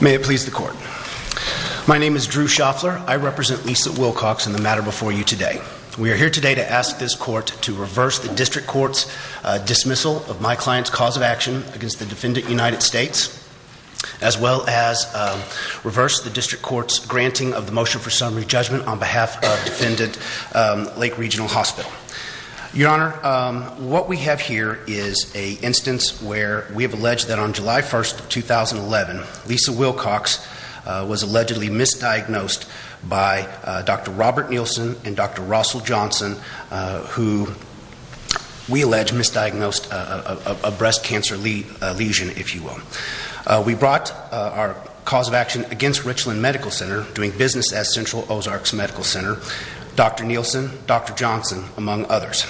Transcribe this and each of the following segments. May it please the court. My name is Drew Shoffler. I represent Lisa Wilcox in the matter before you today. We are here today to ask this court to reverse the district court's dismissal of my client's cause of action against the defendant United States, as well as reverse the district court's granting of the motion for summary judgment on behalf of defendant Lake Regional Hospital. Your Honor, what we have here is an instance where we have alleged that on July 1st, 2011, Lisa Wilcox was allegedly misdiagnosed by Dr. Robert Nielsen and Dr. Russell Johnson, who we allege misdiagnosed a breast cancer lesion, if you will. We brought our cause of action against Richland Medical Center, doing business as Central Ozarks Medical Center, Dr. Nielsen, Dr. Johnson, among others.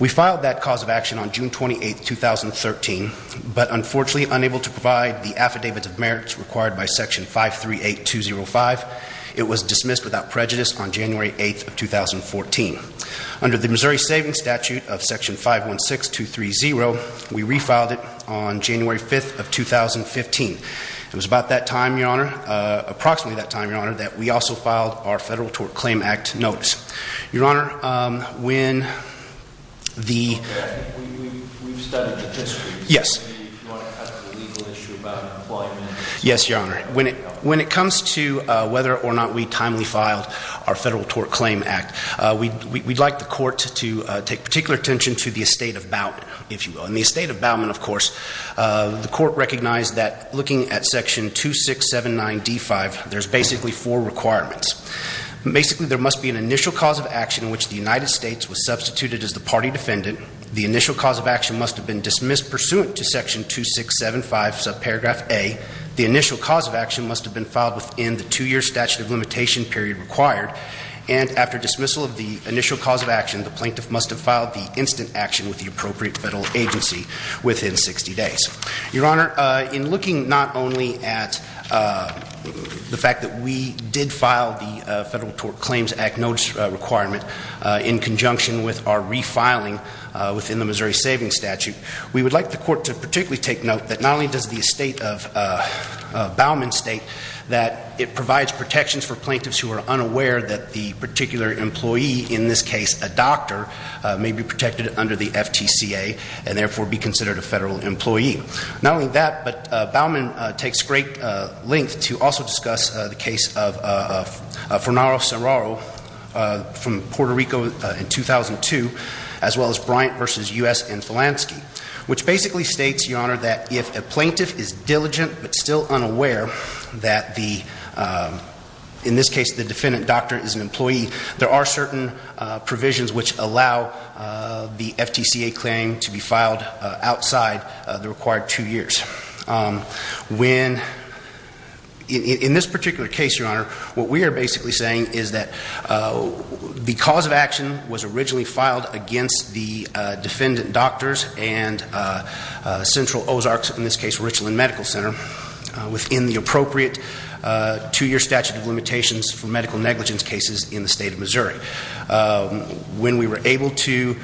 We filed that cause of action on June 28th, 2013, but unfortunately unable to provide the affidavits of merits required by Section 538205, it was dismissed without prejudice on January 8th of 2014. Under the Missouri It was about that time, Your Honor, approximately that time, Your Honor, that we also filed our Federal Tort Claim Act notice. Your Honor, when the... We've studied the district. Yes. We want to have the legal issue about employment. Yes, Your Honor. When it comes to whether or not we timely filed our Federal Tort Claim Act, we'd like the court to take particular attention to the estate of Bowman, if you will. In the estate of Bowman, of course, the court recognized that looking at Section 2679D5, there's basically four requirements. Basically, there must be an initial cause of action in which the United States was substituted as the party defendant. The initial cause of action must have been dismissed pursuant to Section 2675, subparagraph A. The initial cause of action must have been filed within the two-year statute of limitation period required. And after dismissal of the initial cause of action, the plaintiff must have filed the instant action with the appropriate federal agency within 60 days. Your Honor, in looking not only at the fact that we did file the Federal Tort Claims Act notice requirement in conjunction with our refiling within the Missouri Savings Statute, we would like the court to particularly take note that not only does the estate of Bowman state that it provides protections for plaintiffs who are unaware that the particular employee, in this case a doctor, may be protected under the FTCA and therefore be considered a federal employee. Not only that, but Bowman takes great length to also discuss the case of Fornaro-Sarraro from Puerto Rico in 2002, as well as Bryant v. U.S. and Filanski, which basically states, Your Honor, that if a plaintiff is diligent but still unaware that the, in this case the defendant doctor is an employee, there are certain provisions which allow the FTCA claim to be filed outside the required two years. When, in this particular case, Your Honor, what we are basically saying is that the cause of action was originally filed against the defendant doctors and Central Ozarks, in this case Richland Medical Center, within the appropriate two year statute of limitations for medical negligence cases in the state of Missouri. When we were able to,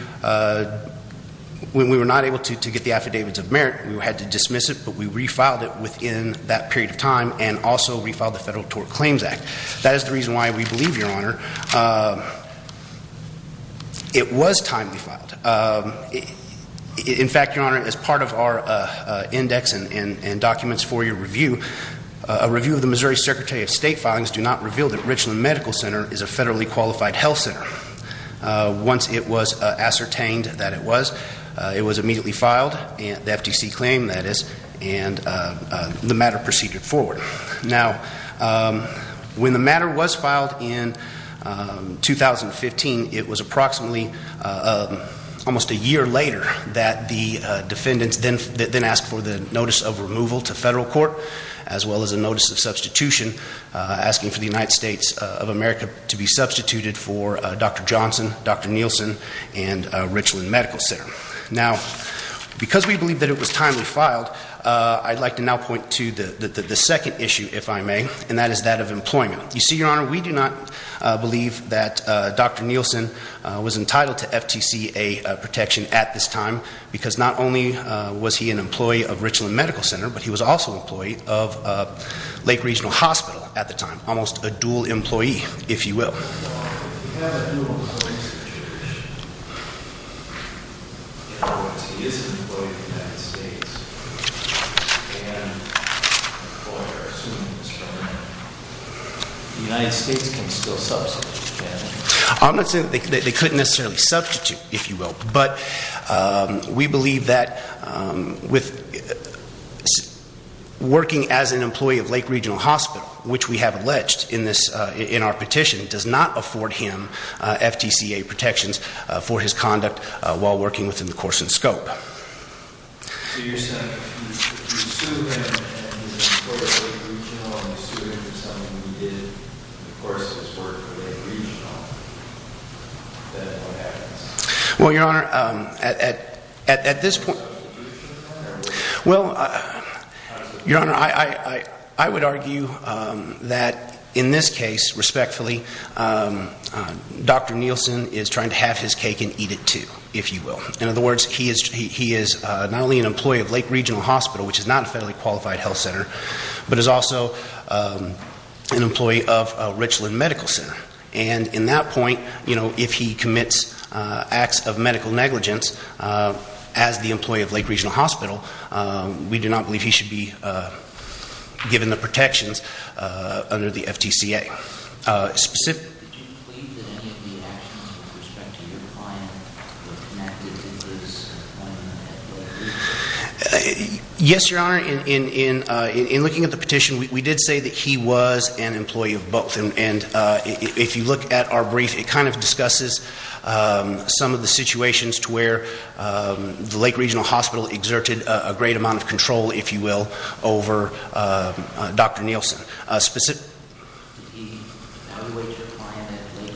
when we were not able to get the Affidavits of Merit, we had to dismiss it, but we refiled it within that period of time and also refiled the Federal Tort Claims Act. That is the reason why we believe, Your Honor, it was timely filed. In fact, Your Honor, as part of our index and documents for your review, a review of the Missouri Secretary of State filings do not reveal that Richland Medical Center is a federally qualified health center. Once it was ascertained that it was, it was immediately filed, the FTC claim that is, and the matter proceeded forward. Now, when the matter was filed in 2015, it was approximately almost a year later that the defendants then asked for the Notice of Removal to Federal Court, as well as a Notice of Substitution, asking for the United States of America to be substituted for Dr. Johnson, Dr. Nielsen, and Richland Medical Center. Now, because we believe that it was timely filed, I'd like to now point to the second issue, if I may, and that is that of employment. You see, Your Honor, we do not believe that Dr. Nielsen was entitled to FTCA protection at this time, because not only was he an employee of Richland Medical Center, but he was also an employee of Lake Regional Hospital at the time, almost a dual employee, if you will. If you have a dual employee situation, in other words, he is an employee of the United States, and the court are assuming that the United States can still substitute him. I'm not saying that they couldn't necessarily substitute, if you will, but we believe that with working as an employee of Lake Regional Hospital, which we have alleged in this, in our petition, does not afford him FTCA protections for his conduct while working within the course and scope. So you're saying, if you sue him, and he's an employee of Lake Regional, and you sue him for something he did, of course it's work for Lake Regional, then what happens? Well, Your Honor, at this point, well, Your Honor, I would argue that in this case, respectfully, Dr. Nielsen is trying to have his cake and eat it, too, if you will. In other words, he is not only an employee of Lake Regional Hospital, which is not a federally qualified health center, but is also an employee of Richland Medical Center. And in that point, you know, if he commits acts of medical negligence as the employee of Lake Regional Hospital, we do not believe he should be given the protections under the FTCA. Did you plead that any of the actions with respect to your client were connected to his conduct? Yes, Your Honor. In looking at the petition, we did say that he was an employee of both. And if you look at our brief, it kind of discusses some of the situations to where the Lake Regional Hospital exerted a great amount of control, if you will, over Dr. Nielsen. Did he evaluate your client at Lake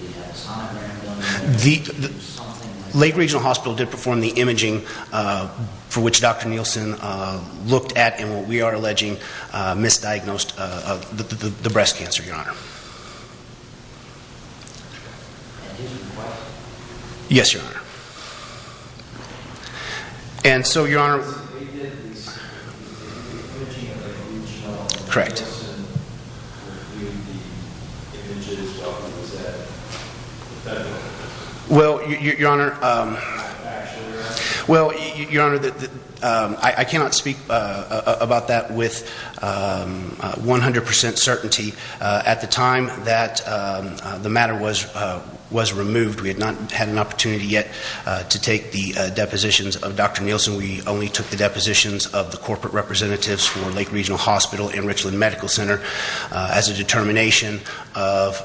Regional? Did he have a son? Lake Regional Hospital did perform the imaging for which Dr. Nielsen looked at, and what your Honor, I cannot speak about that with 100 percent certainty. At the time that the matter was removed, we had not had an opportunity yet to take the depositions of Dr. Nielsen. We only took the depositions of the corporate representatives for Lake Regional Hospital and Richland Medical Center as a determination of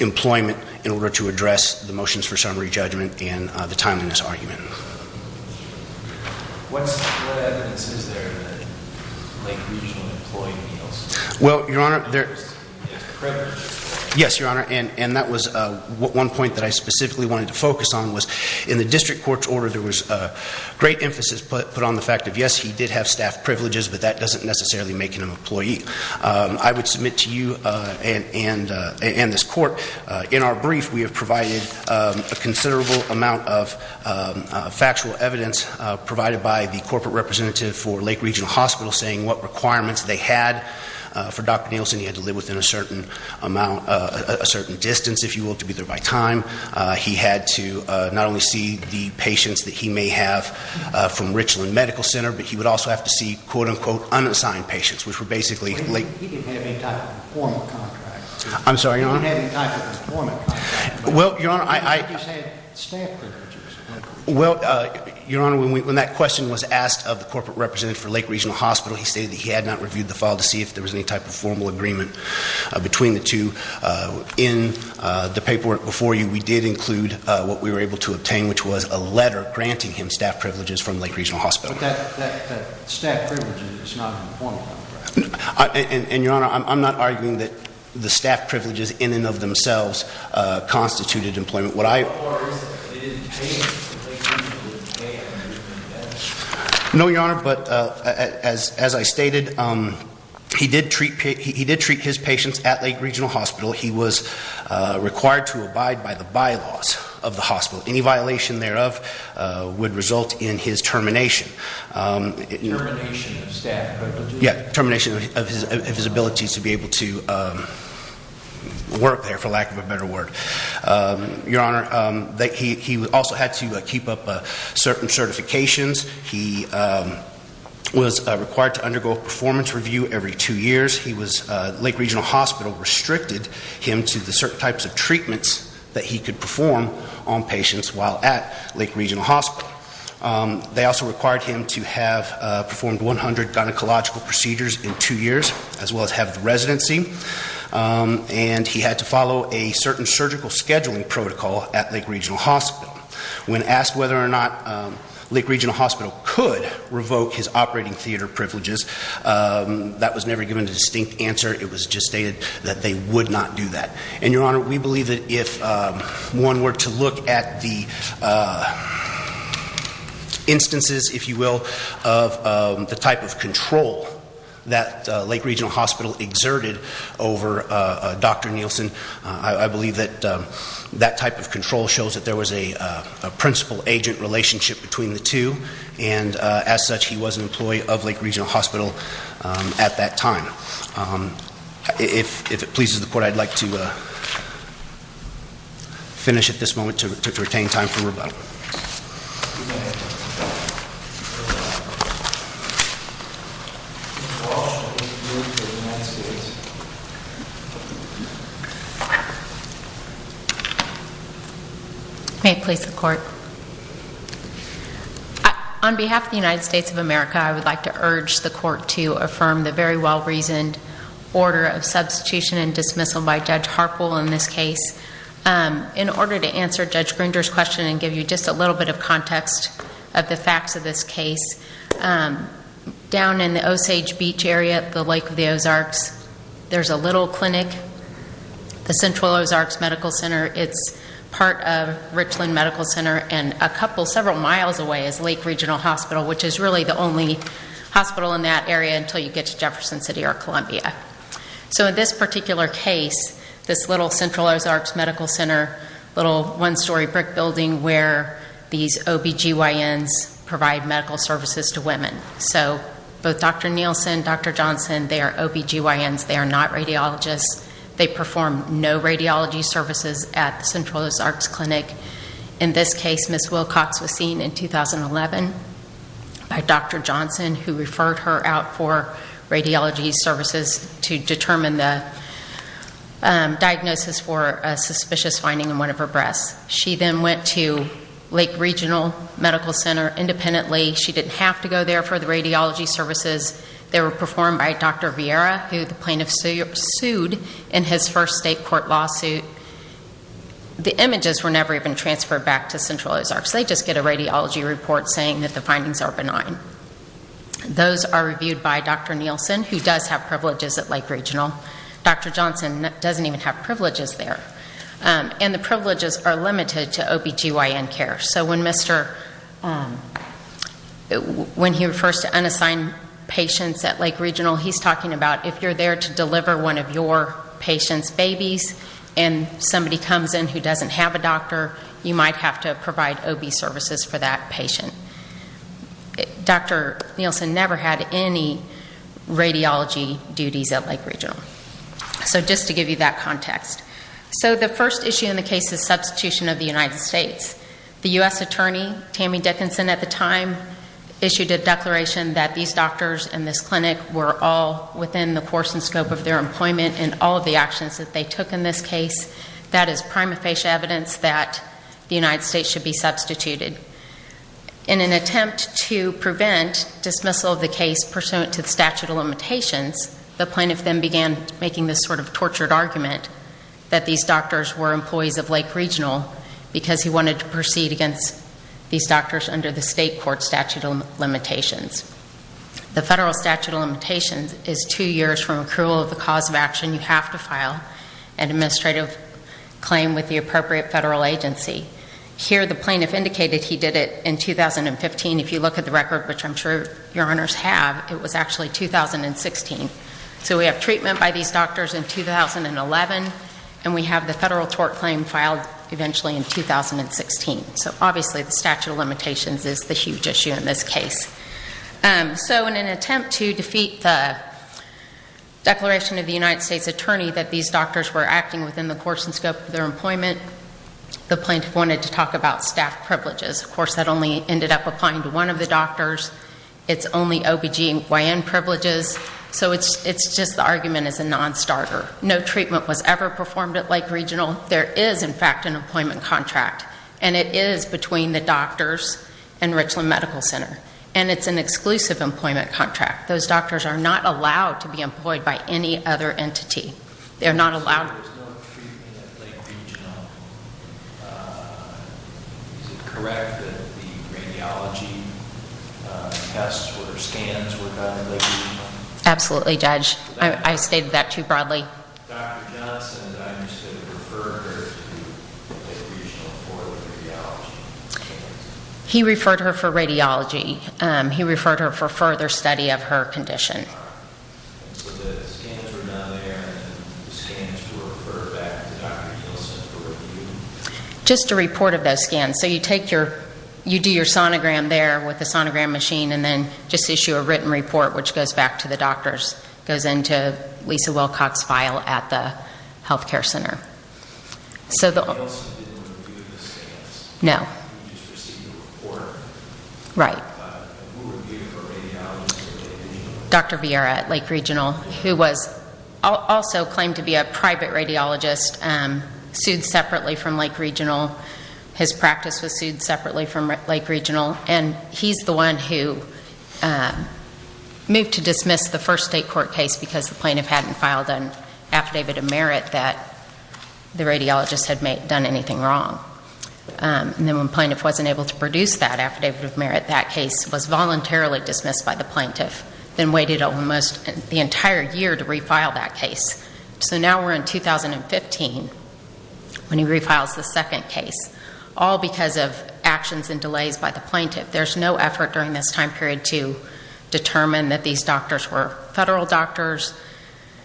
employment in order to address the motions for summary judgment and the timeliness argument. What evidence is there that Lake Regional employed Nielsen? Well, Your Honor, yes, Your Honor, and that was one point that I specifically wanted to focus on was in the district court's order, there was great emphasis put on the fact that yes, he did have staff privileges, but that doesn't necessarily make him an employee. I would submit to you and this court, in our brief, we have provided a considerable amount of factual evidence provided by the corporate representative for Lake Regional Hospital saying what requirements they had for Dr. Nielsen. He had to live within a certain amount, a certain distance, if you will, to be there by time. He had to not only see the patients that he may have from Richland Medical Center, but he would also have to see quote-unquote unassigned patients, which were basically... He didn't have any type of formal contract. I'm sorry, Your Honor? He didn't have any type of formal contract. Well, Your Honor, I... He just had staff privileges. Well, Your Honor, when that question was asked of the corporate representative for Lake Regional Hospital, he stated that he had not reviewed the file to see if there was any type of formal agreement between the two. In the paperwork before you, we did include what we were able to obtain, which was a letter granting him staff privileges from Lake Regional Hospital. But that staff privilege is not an employment contract. And Your Honor, I'm not arguing that the staff privileges in and of themselves constituted employment. What I... Or is it that they didn't pay him? No, Your Honor, but as I stated, he did treat his patients at Lake Regional Hospital. He was required to abide by the bylaws of the hospital. Any violation thereof would result in his termination. Termination of staff privileges? Yeah, termination of his ability to be able to work there, for lack of a better word. Your Honor, he also had to keep up certain certifications. He was required to undergo a performance review every two years. Lake Regional Hospital restricted him to the certain types of treatments that he could perform on patients while at Lake Regional Hospital. They also required him to have performed 100 gynecological procedures in two years, as he had to follow a certain surgical scheduling protocol at Lake Regional Hospital. When asked whether or not Lake Regional Hospital could revoke his operating theater privileges, that was never given a distinct answer. It was just stated that they would not do that. And Your Honor, we believe that if one were to look at the instances, if you will, of the type of control that Lake Regional Hospital exerted over Dr. Nielsen, I believe that that type of control shows that there was a principal-agent relationship between the two, and as such, he was an employee of Lake Regional Hospital at that time. If it pleases the Court, I'd like to finish at this moment to retain time for rebuttal. Mr. Walsh, I'll give the floor to the United States. May it please the Court. On behalf of the United States of America, I would like to urge the Court to affirm the very well-reasoned order of substitution and dismissal by Judge Harpool in this case. In order to answer Judge Grinder's question and give you just a little bit of context of the facts of this case, down in the Osage Beach area at the Lake of the Ozarks, there's a little clinic, the Central Ozarks Medical Center. It's part of Richland Medical Center and a couple, several miles away is Lake Regional Hospital, which is really the only hospital in that area until you get to Jefferson City or Columbia. So in this particular case, this little Central Ozarks Medical Center, little one-story brick building where these OBGYNs provide medical services to women. So both Dr. Nielsen and Dr. Johnson, they are OBGYNs. They are not radiologists. They perform no radiology services at the Central Ozarks Clinic. In this case, Ms. Wilcox was seen in 2011 by Dr. Johnson, who referred her out for radiology services to determine the diagnosis for a suspicious finding in one of her breasts. She then went to Lake Regional Medical Center independently. She didn't have to go there for the radiology services. They were performed by Dr. Vieira, who the plaintiff sued in his first state court lawsuit. The images were never even transferred back to Central Ozarks. They just get a radiology report saying that the findings are benign. Those are reviewed by Dr. Nielsen, who does have privileges at Lake Regional. Dr. Johnson doesn't even have privileges there. And the privileges are limited to OBGYN care. So when he refers to unassigned patients at Lake Regional, he's talking about if you're there to deliver one of your patient's babies and somebody comes in who doesn't have a doctor, you might have to provide OB services for that patient. Dr. Nielsen never had any radiology duties at Lake Regional. So just to give you that context. So the first issue in the case is substitution of the United States. The U.S. Attorney, Tammy Dickinson, at the time issued a declaration that these doctors in this clinic were all within the course and scope of their employment and all of the actions that they took in this case. That is prima facie evidence that the United States should be substituted. In an attempt to prevent dismissal of the case pursuant to the statute of limitations, the plaintiff then began making this sort of tortured argument that these doctors were employees of Lake Regional because he wanted to proceed against these doctors under the state court statute of limitations. The federal statute of limitations is two years from accrual of the cause of action you have to file and administrative claim with the appropriate federal agency. Here the plaintiff indicated he did it in 2015. If you look at the record, which I'm sure your honors have, it was actually 2016. So we have treatment by these doctors in 2011 and we have the federal tort claim filed eventually in 2016. So obviously the statute of limitations is the huge issue in this case. So in an attempt to defeat the declaration of the United States Attorney that these doctors were acting within the course and scope of their employment, the plaintiff wanted to talk about staff privileges. Of course that only ended up applying to one of the doctors. It's only OBGYN privileges. So it's just the argument is a non-starter. No treatment was ever performed at Lake Regional. There is, in fact, an employment contract. And it is between the doctors and Richland Medical Center. And it's an exclusive employment contract. Those doctors are not allowed to be employed by any other entity. They're not allowed. Absolutely, Judge. I stated that too broadly. He referred her for radiology. He referred her for further study of her condition. Do you have any scans to refer back to Dr. Wilson for review? Just a report of those scans. So you do your sonogram there with the sonogram machine and then just issue a written report which goes back to the doctors. It goes into Lisa Wilcox's file at the health care center. And Wilson didn't review the scans? No. He just received a report. Right. Who reviewed her radiology? Dr. Vieira at Lake Regional who also claimed to be a private radiologist sued separately from Lake Regional. His practice was sued separately from Lake Regional. And he's the one who moved to dismiss the first state court case because the plaintiff hadn't filed an affidavit of merit that the radiologist had done anything wrong. And then when the plaintiff wasn't able to produce that affidavit of merit that case was voluntarily dismissed by the plaintiff then waited almost the entire year to refile that case. So now we're in 2015 when he refiles the second case all because of actions and delays by the plaintiff. There's no effort during this time period to determine that these doctors were federal doctors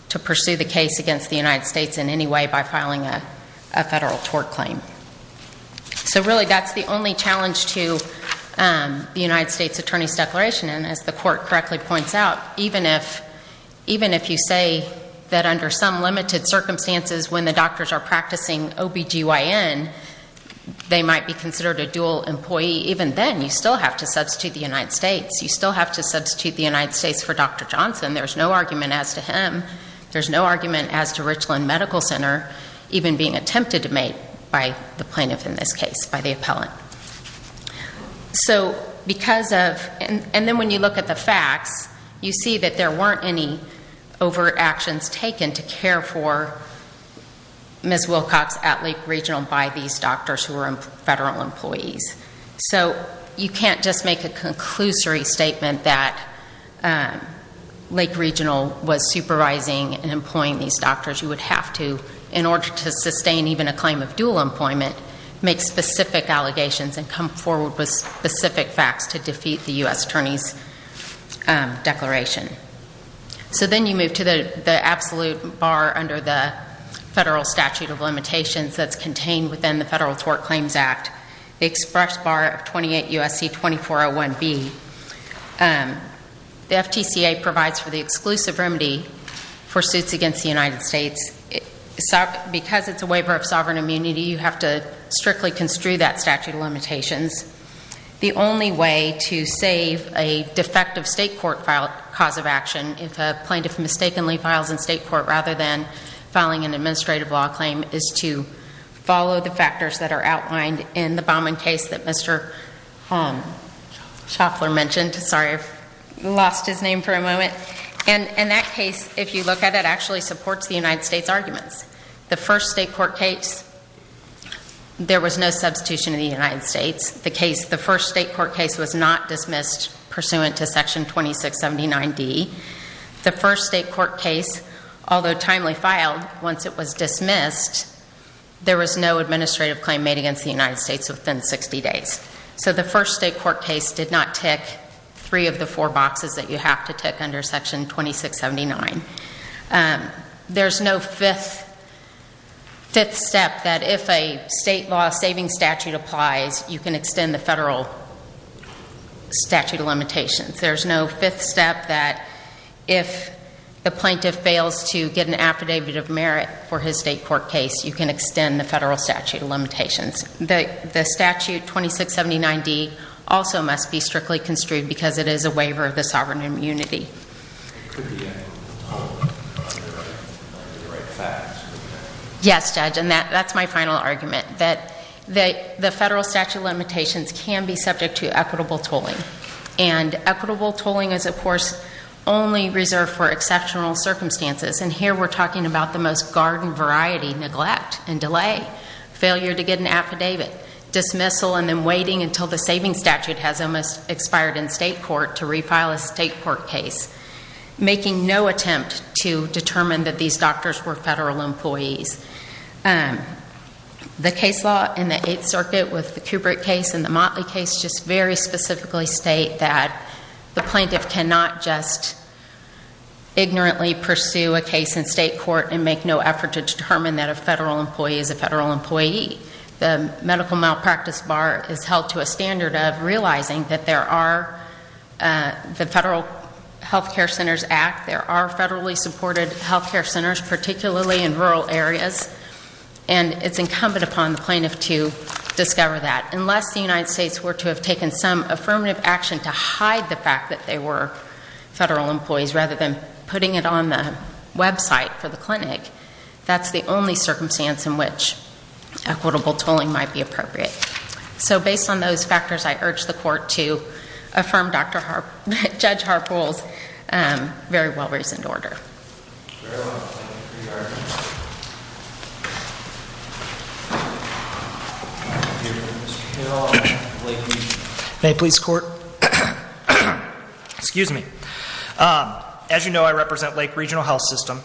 to pursue the case against the United States in any way by filing a federal tort claim. So really that's the only challenge to the United States Attorney's Declaration and as the court correctly points out even if you say that under some limited circumstances when the doctors are practicing OBGYN they might be considered a dual employee even then you still have to substitute the United States. You still have to substitute the United States for Dr. Johnson. There's no argument as to him. There's no argument as to Richland Medical Center even being attempted to make by the plaintiff in this case by the appellant. So because of and then when you look at the facts you see that there weren't any overt actions taken to care for Ms. Wilcox at Lake Regional by these doctors who were federal employees. So you can't just make a conclusory statement that Lake Regional was supervising and employing these doctors. You would have to in order to sustain even a claim of dual employment make specific allegations and come forward with specific facts to defeat the U.S. Attorney's Declaration. So then you move to the absolute bar under the federal statute of limitations that's contained within the Federal Tort Claims Act. The express bar of 28 U.S.C. 2401B The FTCA provides for the exclusive remedy for suits against the United States because it's a waiver of sovereign immunity you have to strictly construe that statute of limitations. The only way to save a defective state court filed cause of action if a plaintiff mistakenly files in state court rather than filing an administrative law claim is to follow the factors that are outlined in the Baumann case that Mr. Schaffler mentioned sorry I've lost his name for a moment and that case if you look at it actually supports the United States arguments. The first state court case there was no substitution in the United States the first state court case was not dismissed pursuant to section 2679D the first state court case although timely filed once it was dismissed there was no administrative claim made against the United States within 60 days so the first state court case did not tick three of the four boxes that you have to tick under section 2679. There's no fifth step that if a state law saving statute applies you can extend the federal statute of limitations there's no fifth step that if the plaintiff fails to get an affidavit of merit for his state court case you can extend the federal statute of limitations. The statute of 2679D also must be strictly construed because it is a waiver of the sovereign immunity It could be a tolling under the right facts Yes judge and that's my final argument that the federal statute of limitations can be subject to equitable tolling and equitable tolling is of course only reserved for exceptional circumstances and here we're talking about the most garden variety neglect and delay failure to get an affidavit, dismissal and then waiting until the saving statute has almost expired in state court to refile a state court case making no attempt to determine that these doctors were federal employees The case law in the 8th circuit with the Kubrick case and the Motley case just very specifically state that the plaintiff cannot just ignorantly pursue a case in state court and make no effort to determine that a federal employee is a federal employee The medical malpractice bar is held to a standard of realizing that there are the federal health care centers act there are federally supported health care centers particularly in rural areas and it's incumbent upon the plaintiff to discover that unless the United States were to have taken some affirmative action to hide the fact that they were federal employees rather than website for the clinic, that's the only circumstance in which equitable tolling might be appropriate. So based on those factors I urge the court to affirm Judge Harpool's very well reasoned order May I please court? Excuse me As you know I represent Lake Regional Health System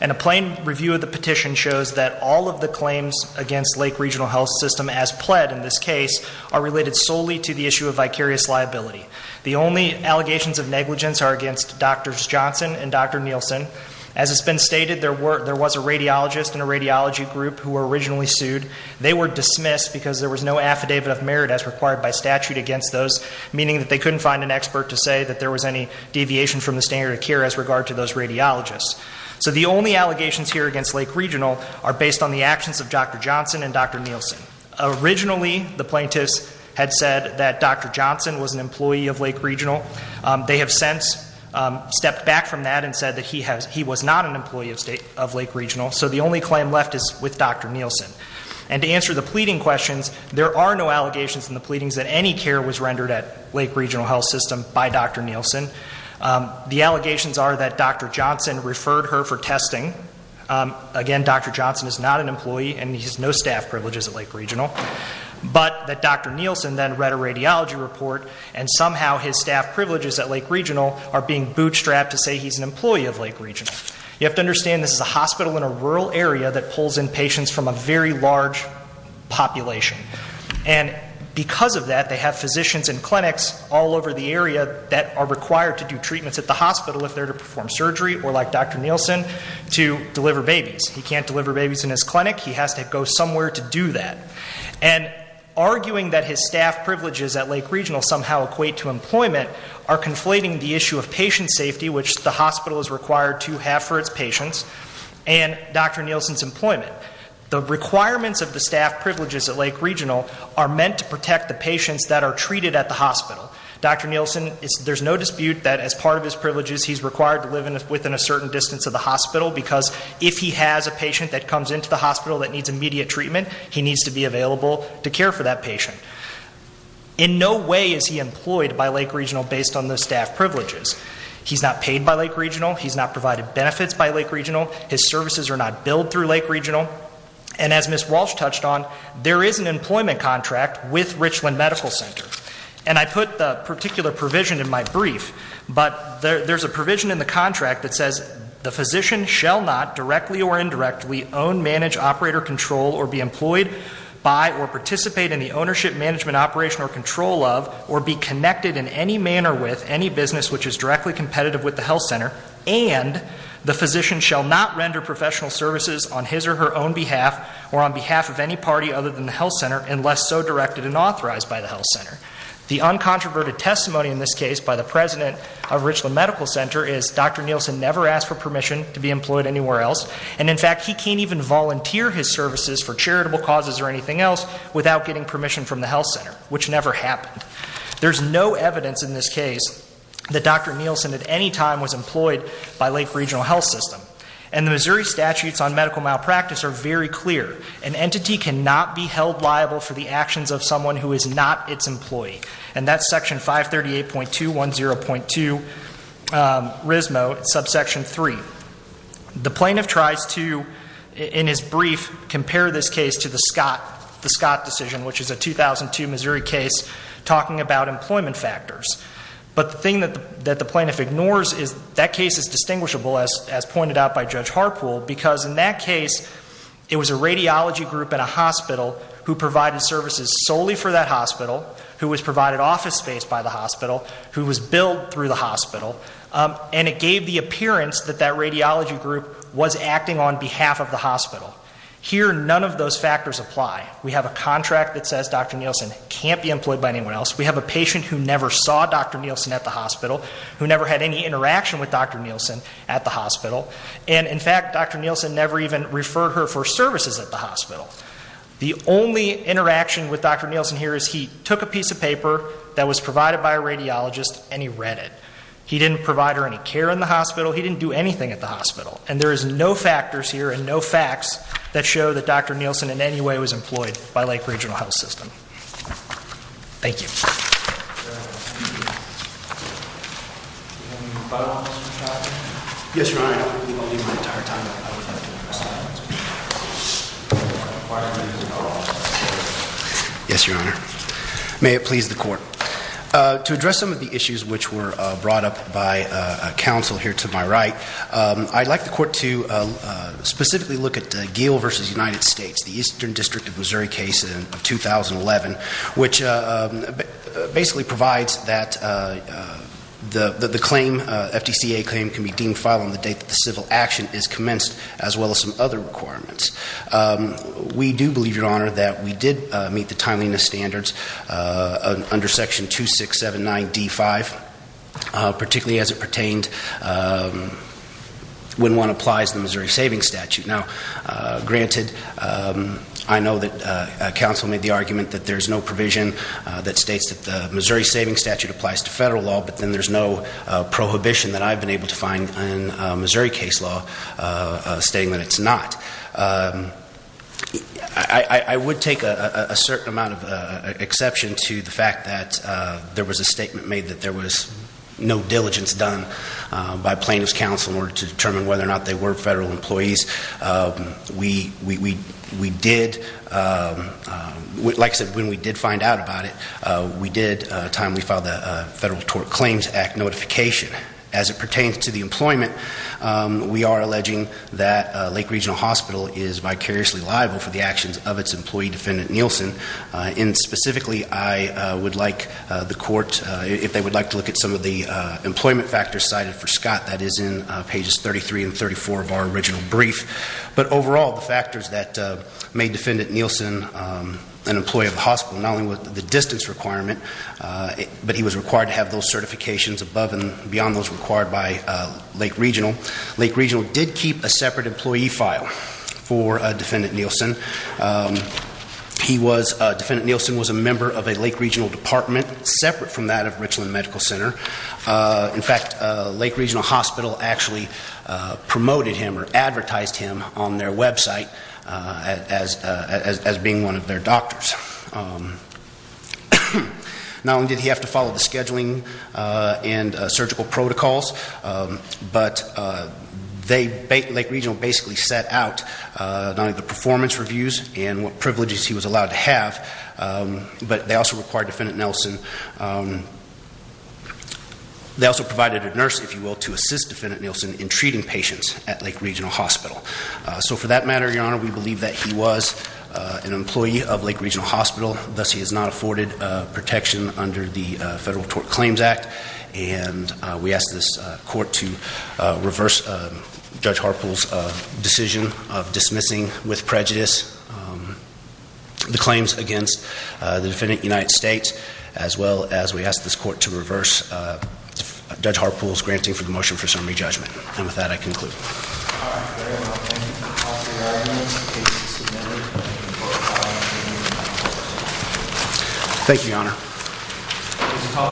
and a plain review of the petition shows that all of the claims against Lake Regional Health System as pled in this case are related solely to the issue of vicarious liability The only allegations of negligence are against Dr. Johnson and Dr. Nielsen. As has been stated there was a radiologist in a radiology group who were originally sued. They were dismissed because there was no affidavit of merit as required by statute against those meaning that they couldn't find an expert to say that there was any deviation from the standard of care as regard to those radiologists. So the only allegations here against Lake Regional are based on the actions of Dr. Johnson and Dr. Nielsen. Originally the plaintiffs had said that Dr. Johnson was an employee of Lake Regional. They have since stepped back from that and said that he was not an employee of Lake Regional so the only claim left is with Dr. Nielsen and to answer the pleading questions there are no allegations in the pleadings that any care was rendered at Lake Regional Health System by Dr. Nielsen. The allegations are that Dr. Johnson referred her for testing again Dr. Johnson is not an employee and he has no staff privileges at Lake Regional but that Dr. Nielsen then read a radiology report and somehow his staff privileges at Lake Regional are being bootstrapped to say he's an employee of Lake Regional. You have to understand this is a very large population and because of that they have physicians in clinics all over the area that are required to do treatments at the hospital if they're to perform surgery or like Dr. Nielsen to deliver babies. He can't deliver babies in his clinic he has to go somewhere to do that and arguing that his staff privileges at Lake Regional somehow equate to employment are conflating the issue of patient safety which the hospital is required to have for its patients and Dr. Nielsen's employment. The requirements of the staff privileges at Lake Regional are meant to protect the patients that are treated at the hospital. Dr. Nielsen there's no dispute that as part of his privileges he's required to live within a certain distance of the hospital because if he has a patient that comes into the hospital that needs immediate treatment he needs to be available to care for that patient. In no way is he employed by Lake Regional based on the staff privileges. He's not provided benefits by Lake Regional. His services are not billed through Lake Regional and as Ms. Walsh touched on there is an employment contract with Richland Medical Center and I put the particular provision in my brief but there's a provision in the contract that says the physician shall not directly or indirectly own, manage, operate or control or be employed by or participate in the ownership, management, operation or control of or be connected in any manner with any business which is directly competitive with the health center and the physician shall not render professional services on his or her own behalf or on behalf of any party other than the health center unless so directed and authorized by the health center. The uncontroverted testimony in this case by the president of Richland Medical Center is Dr. Nielsen never asked for permission to be employed anywhere else and in fact he can't even volunteer his services for charitable causes or anything else without getting permission from the health center which never happened. There's no evidence in this case that Dr. Nielsen at any time was employed by Lake Regional Health System and the Missouri statutes on medical malpractice are very clear. An entity cannot be held liable for the actions of someone who is not its employee and that's section 538.210.2 RISMO subsection 3. The plaintiff tries to in his brief compare this case to the Scott decision which is a 2002 Missouri case talking about employment factors but the thing that the plaintiff ignores is that case is distinguishable as pointed out by Judge Harpool because in that case it was a radiology group in a hospital who provided services solely for that hospital, who was provided office space by the hospital, who was billed through the hospital and it gave the appearance that that radiology group was acting on behalf of the hospital. Here none of those factors apply. We have a contract that says Dr. Nielsen can't be employed by anyone else. We have a patient who never saw Dr. Nielsen at the hospital who never had any interaction with Dr. Nielsen at the hospital and in fact Dr. Nielsen never even referred her for services at the hospital. The only interaction with Dr. Nielsen here is he took a piece of paper that was provided by a radiologist and he read it. He didn't provide her any care in the hospital. He didn't do anything at the hospital and there is no factors here and no facts that show that Dr. Nielsen in any way was employed by Lake Regional Health System. Thank you. Yes, Your Honor. Yes, Your Honor. May it please the Court. To address some of the issues which were brought up by counsel here to my right, I'd like the Court to specifically look at Geale v. United States, the Eastern District of Missouri case in 2011 which basically provides that the claim, FDCA claim can be deemed filed on the date that the civil action is commenced as well as some other requirements. We do believe, Your Honor, that we did meet the timeliness standards under Section 2679 D5, particularly as it pertained when one applies the Missouri Savings Statute. Now, granted, I know that counsel made the argument that there's no provision that states that the Missouri Savings Statute applies to federal law but then there's no prohibition that I've been able to find in Missouri case law stating that it's not. I would take a certain amount of exception to the fact that there was a statement made that there was no diligence done by plaintiff's counsel in order to determine whether or not they were federal employees. We did like I said, when we did find out about it, we did at the time we filed the Federal Tort Claims Act notification. As it pertains to the employment, we are alleging that Lake Regional Hospital is vicariously liable for the actions of its employee, Defendant Nielsen. Specifically, I would like the court, if they would like to look at some of the employment factors cited for Scott, that is in pages 33 and 34 of our original brief. But overall, the factors that made Defendant Nielsen an employee of the hospital, not only with the distance requirement, but he was required to have those certifications above and beyond those required by Lake Regional. Lake Regional did keep a separate employee file for Defendant Nielsen. Defendant Nielsen was a member of a Lake Regional department separate from that of Richland Medical Center. In fact, Lake Regional Hospital actually promoted him or advertised him on their website as being one of their doctors. Not only did he have to follow the scheduling and surgical protocols, but Lake Regional basically set out the performance reviews and what privileges he was allowed to have. But they also required Defendant Nielsen they also provided a nurse, if you will, to assist Defendant Nielsen in treating patients at Lake Regional Hospital. So for that matter, Your Honor, we believe that he was an employee of Lake Regional Hospital. Thus, he has not afforded protection under the Federal Tort Claims Act and we ask this Court to reverse Judge Harpool's decision of dismissing with prejudice the claims against the Defendant in the United States as well as we ask this Court to reverse Judge Harpool's granting for the motion for summary judgment. And with that, I conclude. Thank you, Your Honor.